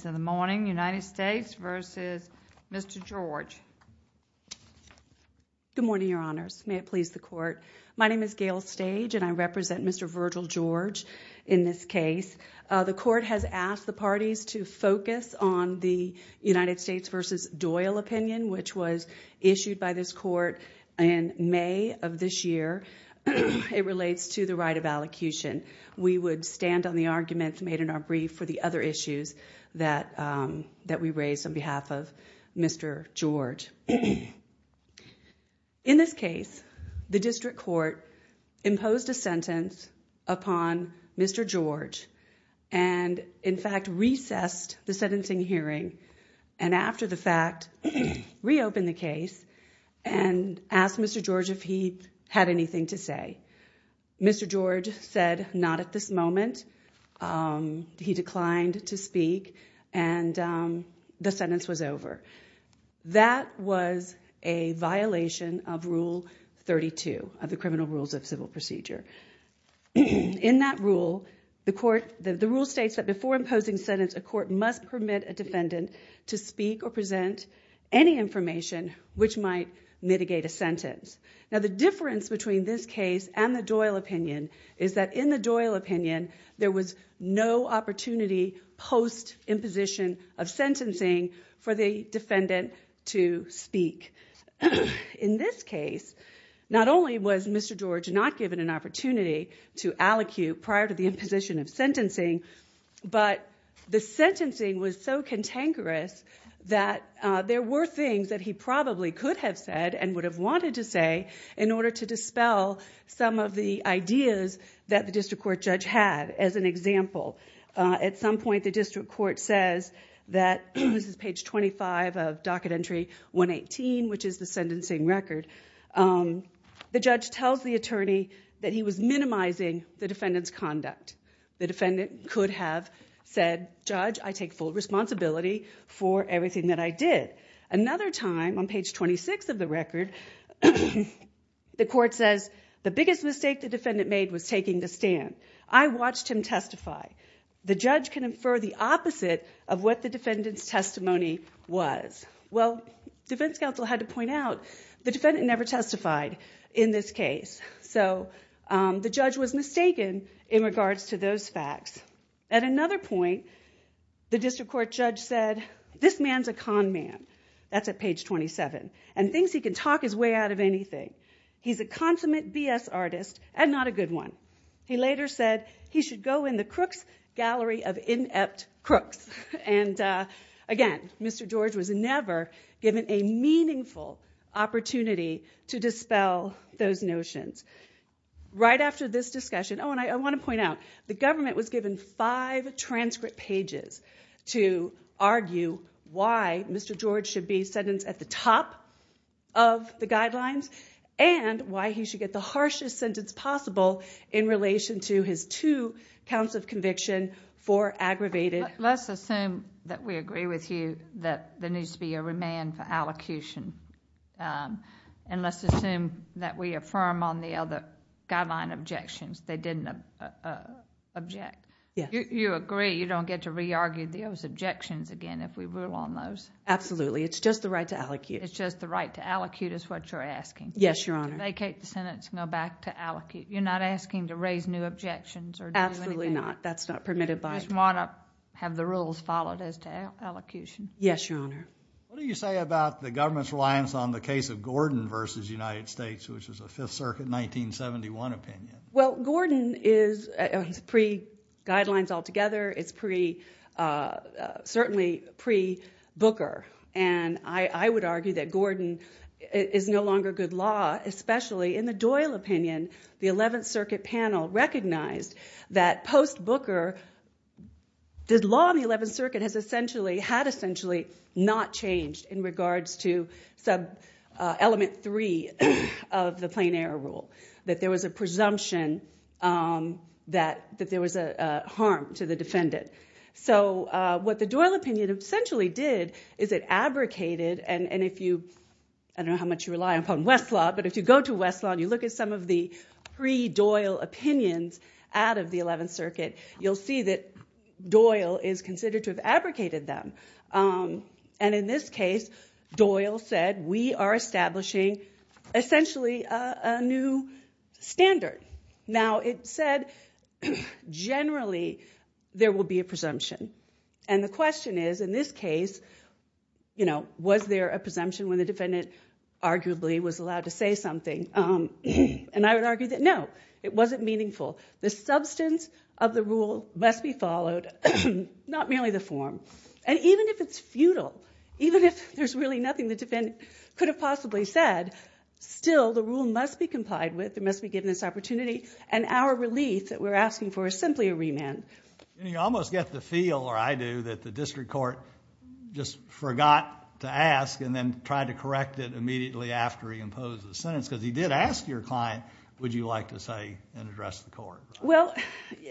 Good morning, your honors. May it please the court. My name is Gail Stage and I represent Mr. Virgil George in this case. The court has asked the parties to focus on the United States v. Doyle opinion, which was issued by this court in May of this year. It relates to the right of allocution. We would stand on the arguments made in our brief for the other issues that we raised on behalf of Mr. George. In this case, the district court imposed a sentence upon Mr. George and in fact recessed the sentencing hearing and after the fact reopened the case and asked Mr. George if he had anything to say. Mr. George said not at this moment. He declined to speak and the sentence was over. That was a violation of Rule 32 of the Criminal Rules of Civil Procedure. In that rule, the court, the rule states that before imposing a sentence, a court must permit a defendant to speak or present any information which might mitigate a sentence. Now the difference between this case and the Doyle opinion is that in the Doyle opinion, there was no opportunity post imposition of sentencing for the defendant to speak. In this case, not only was Mr. George not given an opportunity to allocute prior to the imposition of sentencing, but the sentencing was so cantankerous that there were things that he probably could have said and would have wanted to say in order to dispel some of the ideas that the district court judge had as an example. At some point, the district court says that this is page 25 of docket entry 118 which is the sentencing record. The judge tells the attorney that he was minimizing the defendant's conduct. The defendant could have said, Judge, I take full responsibility for everything that I did. Another time, on page 26 of the record, the court says the biggest mistake the defendant made was taking the stand. I watched him testify. The judge can infer the opposite of what the defendant's testimony was. Well, defense counsel had to point out the defendant never testified in this case. So the judge was mistaken in regards to those facts. At another point, the district court judge said, This man's a con man. That's at page 27. And thinks he can talk his way out of anything. He's a consummate BS artist and not a good one. He later said he should go in the crooks gallery of inept crooks. And again, Mr. George was never given a meaningful opportunity to dispel those notions. Right The government was given five transcript pages to argue why Mr. George should be sentenced at the top of the guidelines and why he should get the harshest sentence possible in relation to his two counts of conviction for aggravated. Let's assume that we agree with you that there needs to be a remand for allocution. And let's assume that we affirm on the other guideline objections they didn't object. You agree you don't get to re-argue those objections again if we rule on those? Absolutely. It's just the right to allocate. It's just the right to allocate is what you're asking? Yes, Your Honor. Vacate the sentence and go back to allocate. You're not asking to raise new objections or do anything? Absolutely not. That's not permitted by the law. You just want to have the rules followed as to allocution? Yes, Your Honor. What do you say about the government's reliance on the case of Gordon v. United States, which is a Fifth Circuit 1971 opinion? Well, Gordon is pre-Guidelines altogether. It's certainly pre-Booker. And I would argue that Gordon is no longer good law, especially in the Doyle opinion. The Eleventh Circuit panel recognized that post-Booker the law in the Eleventh Circuit had essentially not changed in regards to element three of the plain error rule, that there was a presumption that there was a harm to the defendant. So what the Doyle opinion essentially did is it abrogated. And I don't know how much you rely upon Westlaw, but if you go to Westlaw and you look at some of the pre-Doyle opinions out of the Eleventh Circuit, you'll see that Doyle is considered to have abrogated them. And in this case, Doyle said, we are establishing essentially a new standard. Now, it said generally there will be a presumption. And the question is, in this case, was there a presumption when the defendant arguably was allowed to say something? And I would argue that no, it wasn't meaningful. The substance of the rule must be followed, not merely the form. And even if it's futile, even if there's really nothing the defendant could have possibly said, still the rule must be complied with, it must be given this opportunity, and our relief that we're asking for is simply a remand. And you almost get the feel, or I do, that the district court just forgot to ask and then tried to correct it immediately after he imposed the sentence. Because he did ask your client, would you like to say and address the court? Well,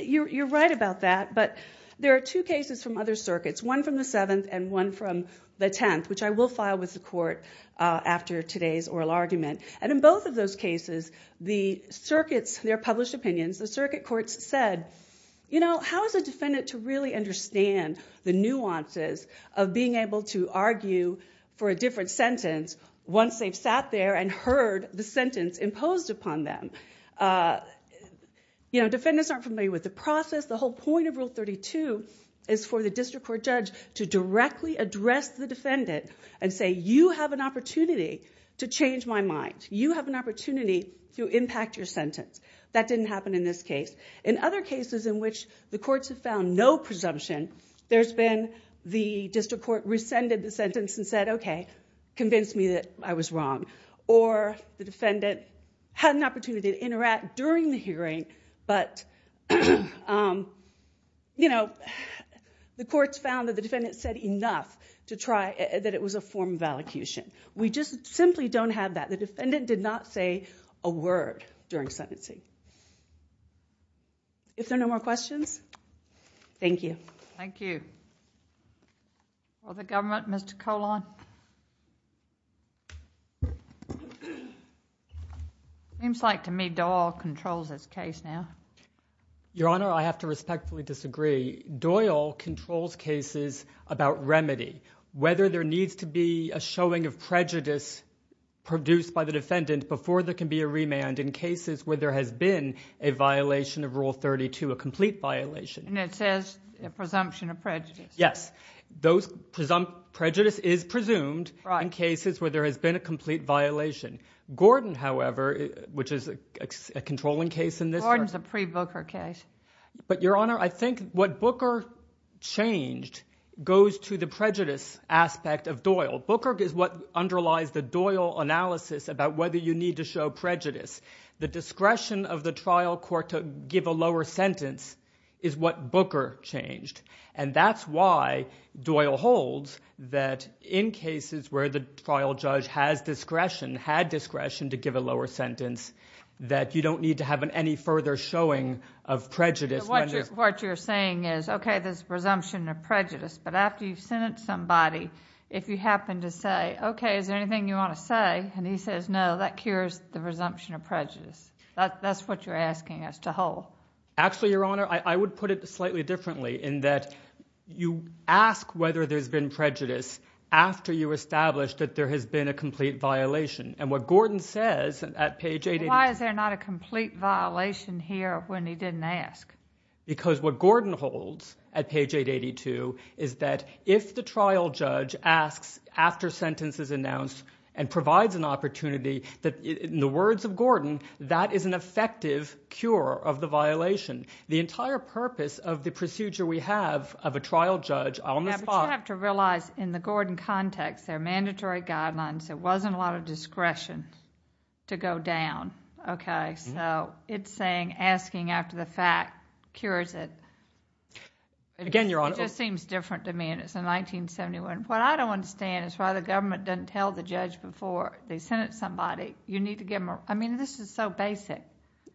you're right about that. But there are two cases from other circuits, one from the Seventh and one from the Tenth, which I will file with the court after today's oral argument. And in both of those cases, the circuits, their published opinions, the circuit courts said, you know, how is a defendant to really understand the nuances of being able to argue for a different sentence once they've sat there and heard the sentence imposed upon them? You know, defendants aren't familiar with the process. The whole point of Rule 32 is for the district court judge to directly address the defendant and say, you have an opportunity to change my mind. You have an opportunity to impact your sentence. That didn't happen in this case. In other cases in which the courts have found no presumption, there's been the district court rescinded the sentence and said, OK, convince me that I was wrong. Or the defendant had an opportunity to interact during the hearing, but, you know, the courts found that the defendant said enough to try that it was a form of allocution. We just simply don't have that. The defendant did not say a word during sentencing. If there are no more questions, thank you. Thank you. For the government, Mr. Colon. Seems like to me Doyle controls this case now. Your Honor, I have to respectfully disagree. Doyle controls cases about remedy. Whether there needs to be a showing of prejudice produced by the defendant before there can be a remand in cases where there has been a violation of Rule 32, a complete violation. And it says a presumption of prejudice. Yes. Those presumpt—prejudice is presumed in cases where there has been a complete violation. Gordon, however, which is a controlling case in this— Gordon's a pre-Booker case. But Your Honor, I think what Booker changed goes to the prejudice aspect of Doyle. Booker is what underlies the Doyle analysis about whether you need to show prejudice. The discretion of the trial court to give a lower sentence is what Booker changed. And that's why Doyle holds that in cases where the trial judge has discretion, had discretion to give a lower sentence, that you don't need to have any further showing of prejudice when there— What you're saying is, okay, there's a presumption of prejudice. But after you've sentenced somebody, if you happen to say, okay, is there anything you want to say? And he says, no, that cures the presumption of prejudice. That's what you're asking us to hold. Actually, Your Honor, I would put it slightly differently in that you ask whether there's been prejudice after you establish that there has been a complete violation. And what Gordon says at page 882— Why is there not a complete violation here when he didn't ask? Because what Gordon holds at page 882 is that if the trial judge asks after sentence is that, in the words of Gordon, that is an effective cure of the violation. The entire purpose of the procedure we have of a trial judge on the spot— Yeah, but you have to realize in the Gordon context, there are mandatory guidelines. There wasn't a lot of discretion to go down, okay? So it's saying asking after the fact cures it. Again, Your Honor— It just seems different to me. And it's in 1971. What I don't understand is why the you need to give them—I mean, this is so basic.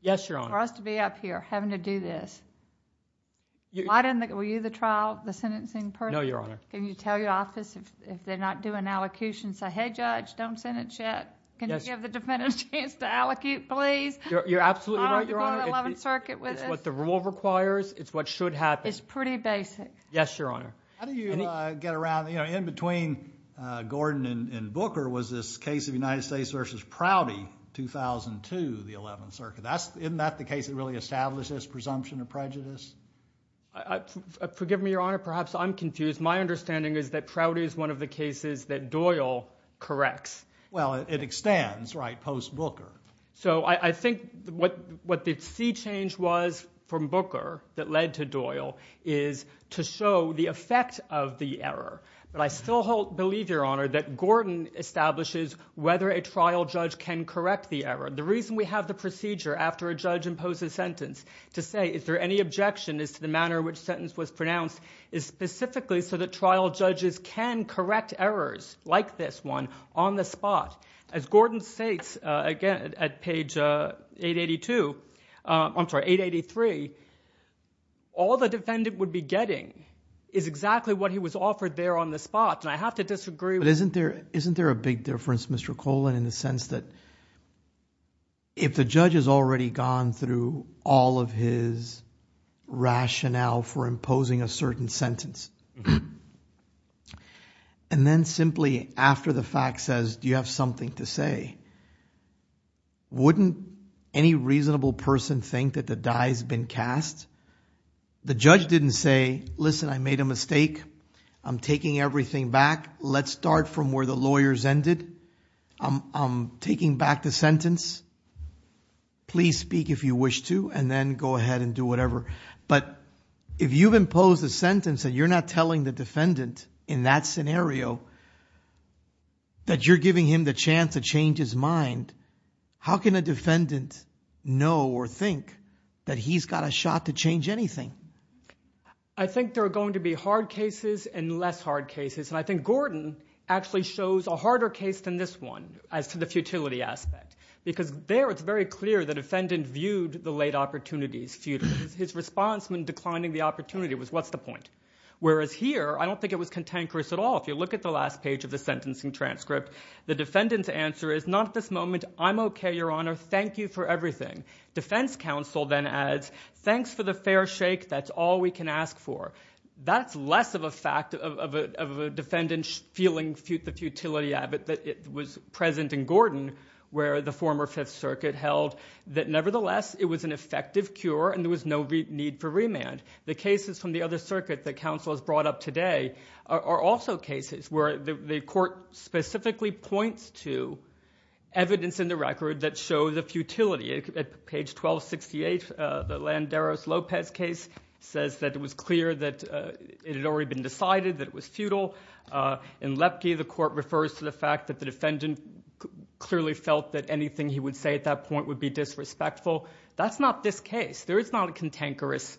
Yes, Your Honor. For us to be up here having to do this. Were you the trial, the sentencing person? No, Your Honor. Can you tell your office if they're not doing allocutions, say, hey, judge, don't sentence yet. Can you give the defendant a chance to allocute, please? You're absolutely right, Your Honor. Oh, to go to 11th Circuit with this. It's what the rule requires. It's what should happen. It's pretty basic. Yes, Your Honor. How do you get around—you know, in between Gordon and Booker was this case of United States v. Prouty, 2002, the 11th Circuit. Isn't that the case that really established this presumption of prejudice? Forgive me, Your Honor, perhaps I'm confused. My understanding is that Prouty is one of the cases that Doyle corrects. Well, it extends, right, post-Booker. So I think what the sea change was from Booker that led to Doyle is to show the effect of the error. But I still believe, Your Honor, that Gordon establishes whether a trial judge can correct the error. The reason we have the procedure after a judge imposes sentence to say, is there any objection as to the manner in which sentence was pronounced, is specifically so that trial judges can correct errors like this one on the spot. As Gordon states, again, at page 882—I'm sorry, 883, all the defendant would be getting is exactly what he was offered there on the spot. And I have to disagree. But isn't there a big difference, Mr. Colan, in the sense that if the judge has already gone through all of his rationale for imposing a certain sentence, and then simply after the fact says, do you have something to say, wouldn't any reasonable person think that the die has been cast? The judge didn't say, listen, I made a mistake. I'm taking everything back. Let's start from where the lawyers ended. I'm taking back the sentence. Please speak if you wish to, and then go ahead and do whatever. But if you've imposed a sentence and you're not telling the defendant in that scenario, that you're giving him the chance to change his mind, how can a defendant know or think that he's got a shot to change anything? I think there are going to be hard cases and less hard cases. And I think Gordon actually shows a harder case than this one as to the futility aspect. Because there, it's very clear the defendant viewed the late opportunities futile. His response when declining the opportunity was, what's the point? Whereas here, I don't think it was cantankerous at all. You look at the last page of the sentencing transcript. The defendant's answer is, not at this moment. I'm OK, Your Honor. Thank you for everything. Defense counsel then adds, thanks for the fair shake. That's all we can ask for. That's less of a fact of a defendant feeling the futility that was present in Gordon, where the former Fifth Circuit held that, nevertheless, it was an effective cure and there was no need for remand. The cases from the other circuit that counsel has brought up today are also cases where the court specifically points to evidence in the record that show the futility. At page 1268, the Landeros-Lopez case says that it was clear that it had already been decided that it was futile. In Lepke, the court refers to the fact that the defendant clearly felt that anything he would say at that point would be disrespectful. That's not this case. There is not a cantankerous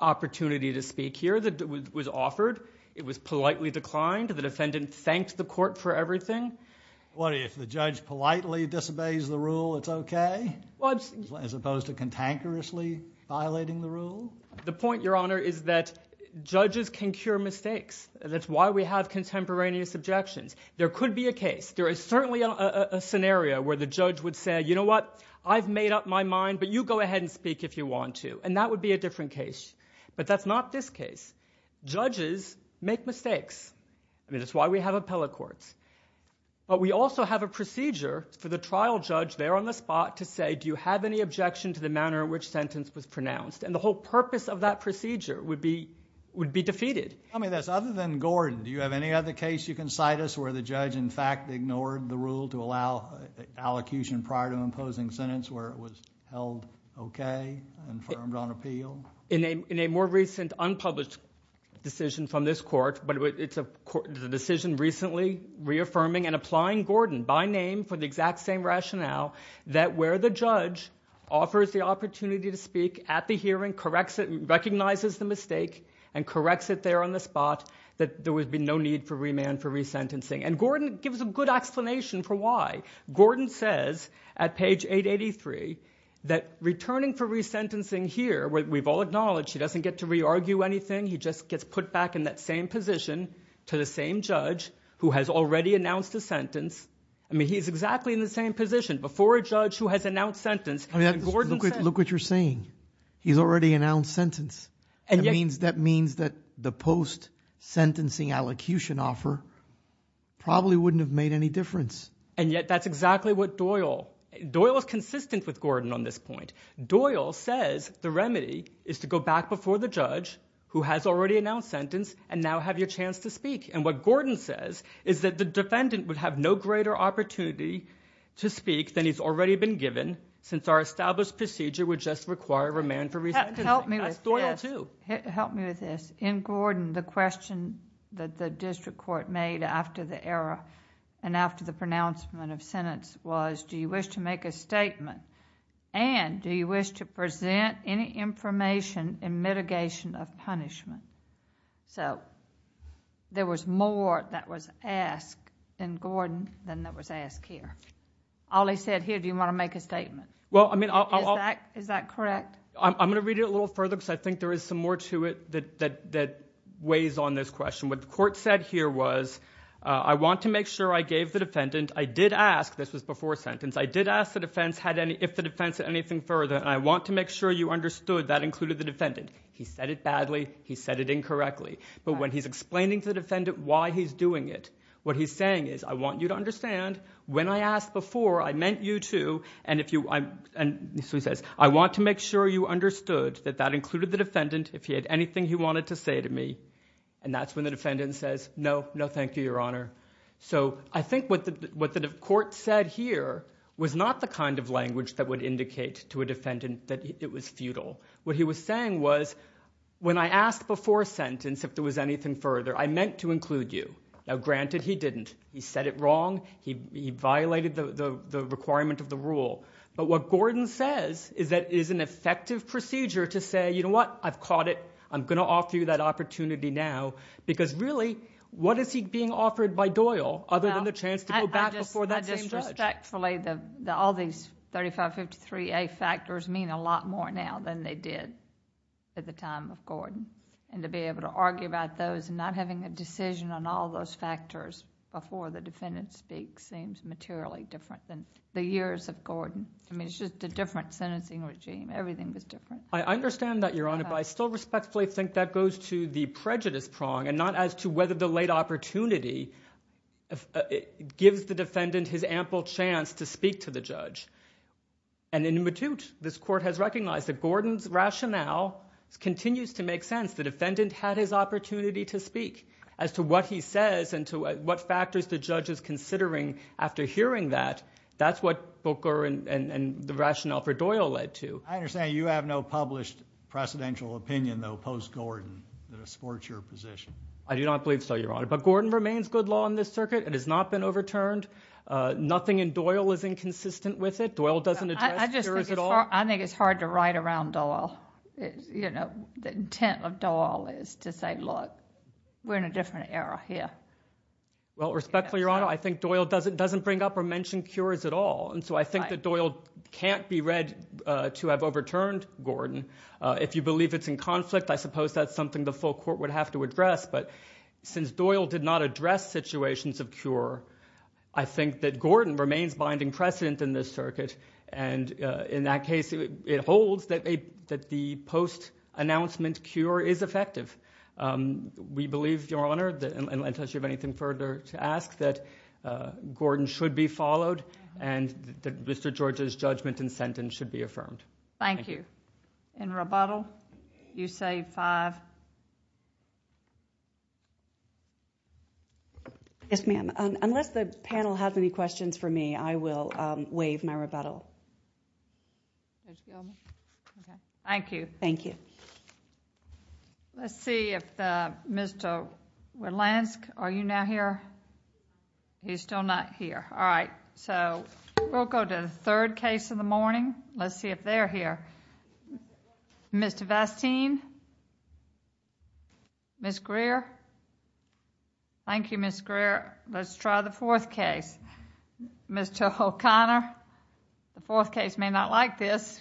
opportunity to speak here that was offered. It was politely declined. The defendant thanked the court for everything. What, if the judge politely disobeys the rule, it's OK? As opposed to cantankerously violating the rule? The point, Your Honor, is that judges can cure mistakes. That's why we have contemporaneous objections. There could be a case. There is certainly a scenario where the judge would say, you know what? I've made up my mind, but you go ahead and speak if you want to. And that would be a different case. But that's not this case. Judges make mistakes. I mean, that's why we have appellate courts. But we also have a procedure for the trial judge there on the spot to say, do you have any objection to the manner in which sentence was pronounced? And the whole purpose of that procedure would be defeated. Tell me this. Other than Gordon, do you have any other case you can cite us where the judge, in fact, ignored the rule to allow allocution prior to imposing sentence where it was held OK and affirmed on appeal? In a more recent unpublished decision from this court, but it's a decision recently reaffirming and applying Gordon by name for the exact same rationale that where the judge offers the opportunity to speak at the hearing, corrects it, recognizes the mistake, and corrects it there on the spot, that there would be no need for remand for resentencing. And Gordon gives a good explanation for why. Gordon says at page 883 that returning for resentencing here, we've all acknowledged he doesn't get to re-argue anything. He just gets put back in that same position to the same judge who has already announced a sentence. I mean, he's exactly in the same position before a judge who has announced sentence. I mean, look what you're saying. He's already announced sentence. That means that the post-sentencing allocution offer probably wouldn't have made any difference. And yet that's exactly what Doyle, Doyle is consistent with Gordon on this point. Doyle says the remedy is to go back before the judge who has already announced sentence and now have your chance to speak. And what Gordon says is that the defendant would have no greater opportunity to speak than he's already been given since our established procedure would just require remand for resentencing. That's Doyle too. Help me with this. In Gordon, the question that the district court made after the error and after the pronouncement of sentence was, do you wish to make a statement? And do you wish to present any information in mitigation of punishment? So there was more that was asked in Gordon than that was asked here. All he said here, do you want to make a statement? Is that correct? I'm going to read it a little further because I think there is some more to it that weighs on this question. What the court said here was, I want to make sure I gave the defendant, I did ask, this was before sentence, I did ask the defense had any, if the defense had anything further, and I want to make sure you understood that included the defendant. He said it badly. He said it incorrectly. But when he's explaining to the defendant why he's doing it, what he's saying is, I want you to understand when I asked before, I meant you too. And so he says, I want to make sure you understood that that included the defendant if he had anything he wanted to say to me. And that's when the defendant says, no, no, thank you, your honor. So I think what the court said here was not the kind of language that would indicate to a defendant that it was futile. What he was saying was, when I asked before sentence if there was anything further, I meant to include you. Now granted, he didn't. He said it wrong. He violated the requirement of the rule. But what Gordon says is that it is an effective procedure to say, you know what, I've caught it. I'm going to offer you that opportunity now because really, what is he being offered by Doyle other than the chance to go back before that same judge?............... I mean, it's just a different sentencing regime. Everything was different. I understand that, your honor, but I still respectfully think that goes to the prejudice prong and not as to whether the late opportunity gives the defendant his ample chance to speak to the judge. And in the matute, this court has recognized that Gordon's rationale continues to make sense. The defendant had his opportunity to speak as to what he says and to what factors the judge is considering after hearing that. That's what Booker and the rationale for Doyle led to. I understand you have no published precedential opinion though post-Gordon that supports your position. I do not believe so, your honor. But Gordon remains good law in this circuit. It has not been overturned. Nothing in Doyle is inconsistent with it. Doyle doesn't address jurors at all. I think it's hard to write around Doyle. The intent of Doyle is to say, look, we're in a different era here. Well, respectfully, your honor, I think Doyle doesn't bring up or mention jurors at all. And so I think that Doyle can't be read to have overturned Gordon. If you believe it's in conflict, I suppose that's something the full court would have to address. But since Doyle did not address situations of cure, I think that Gordon remains binding precedent in this circuit. And in that case, it holds that the post-announcement cure is effective. We believe, your honor, unless you have anything further to ask, that Gordon should be followed and that Mr. George's judgment and sentence should be affirmed. Thank you. In rebuttal, you say five. Yes, ma'am. Unless the panel has any questions for me, I will waive my rebuttal. Thank you. Thank you. Let's see if Mr. Wilansky, are you now here? He's still not here. All right. So we'll go to the third case of the morning. Let's see if they're here. Mr. Vastine? Ms. Greer? Thank you, Ms. Greer. Let's try the fourth case. Mr. O'Connor? The fourth case may not like this.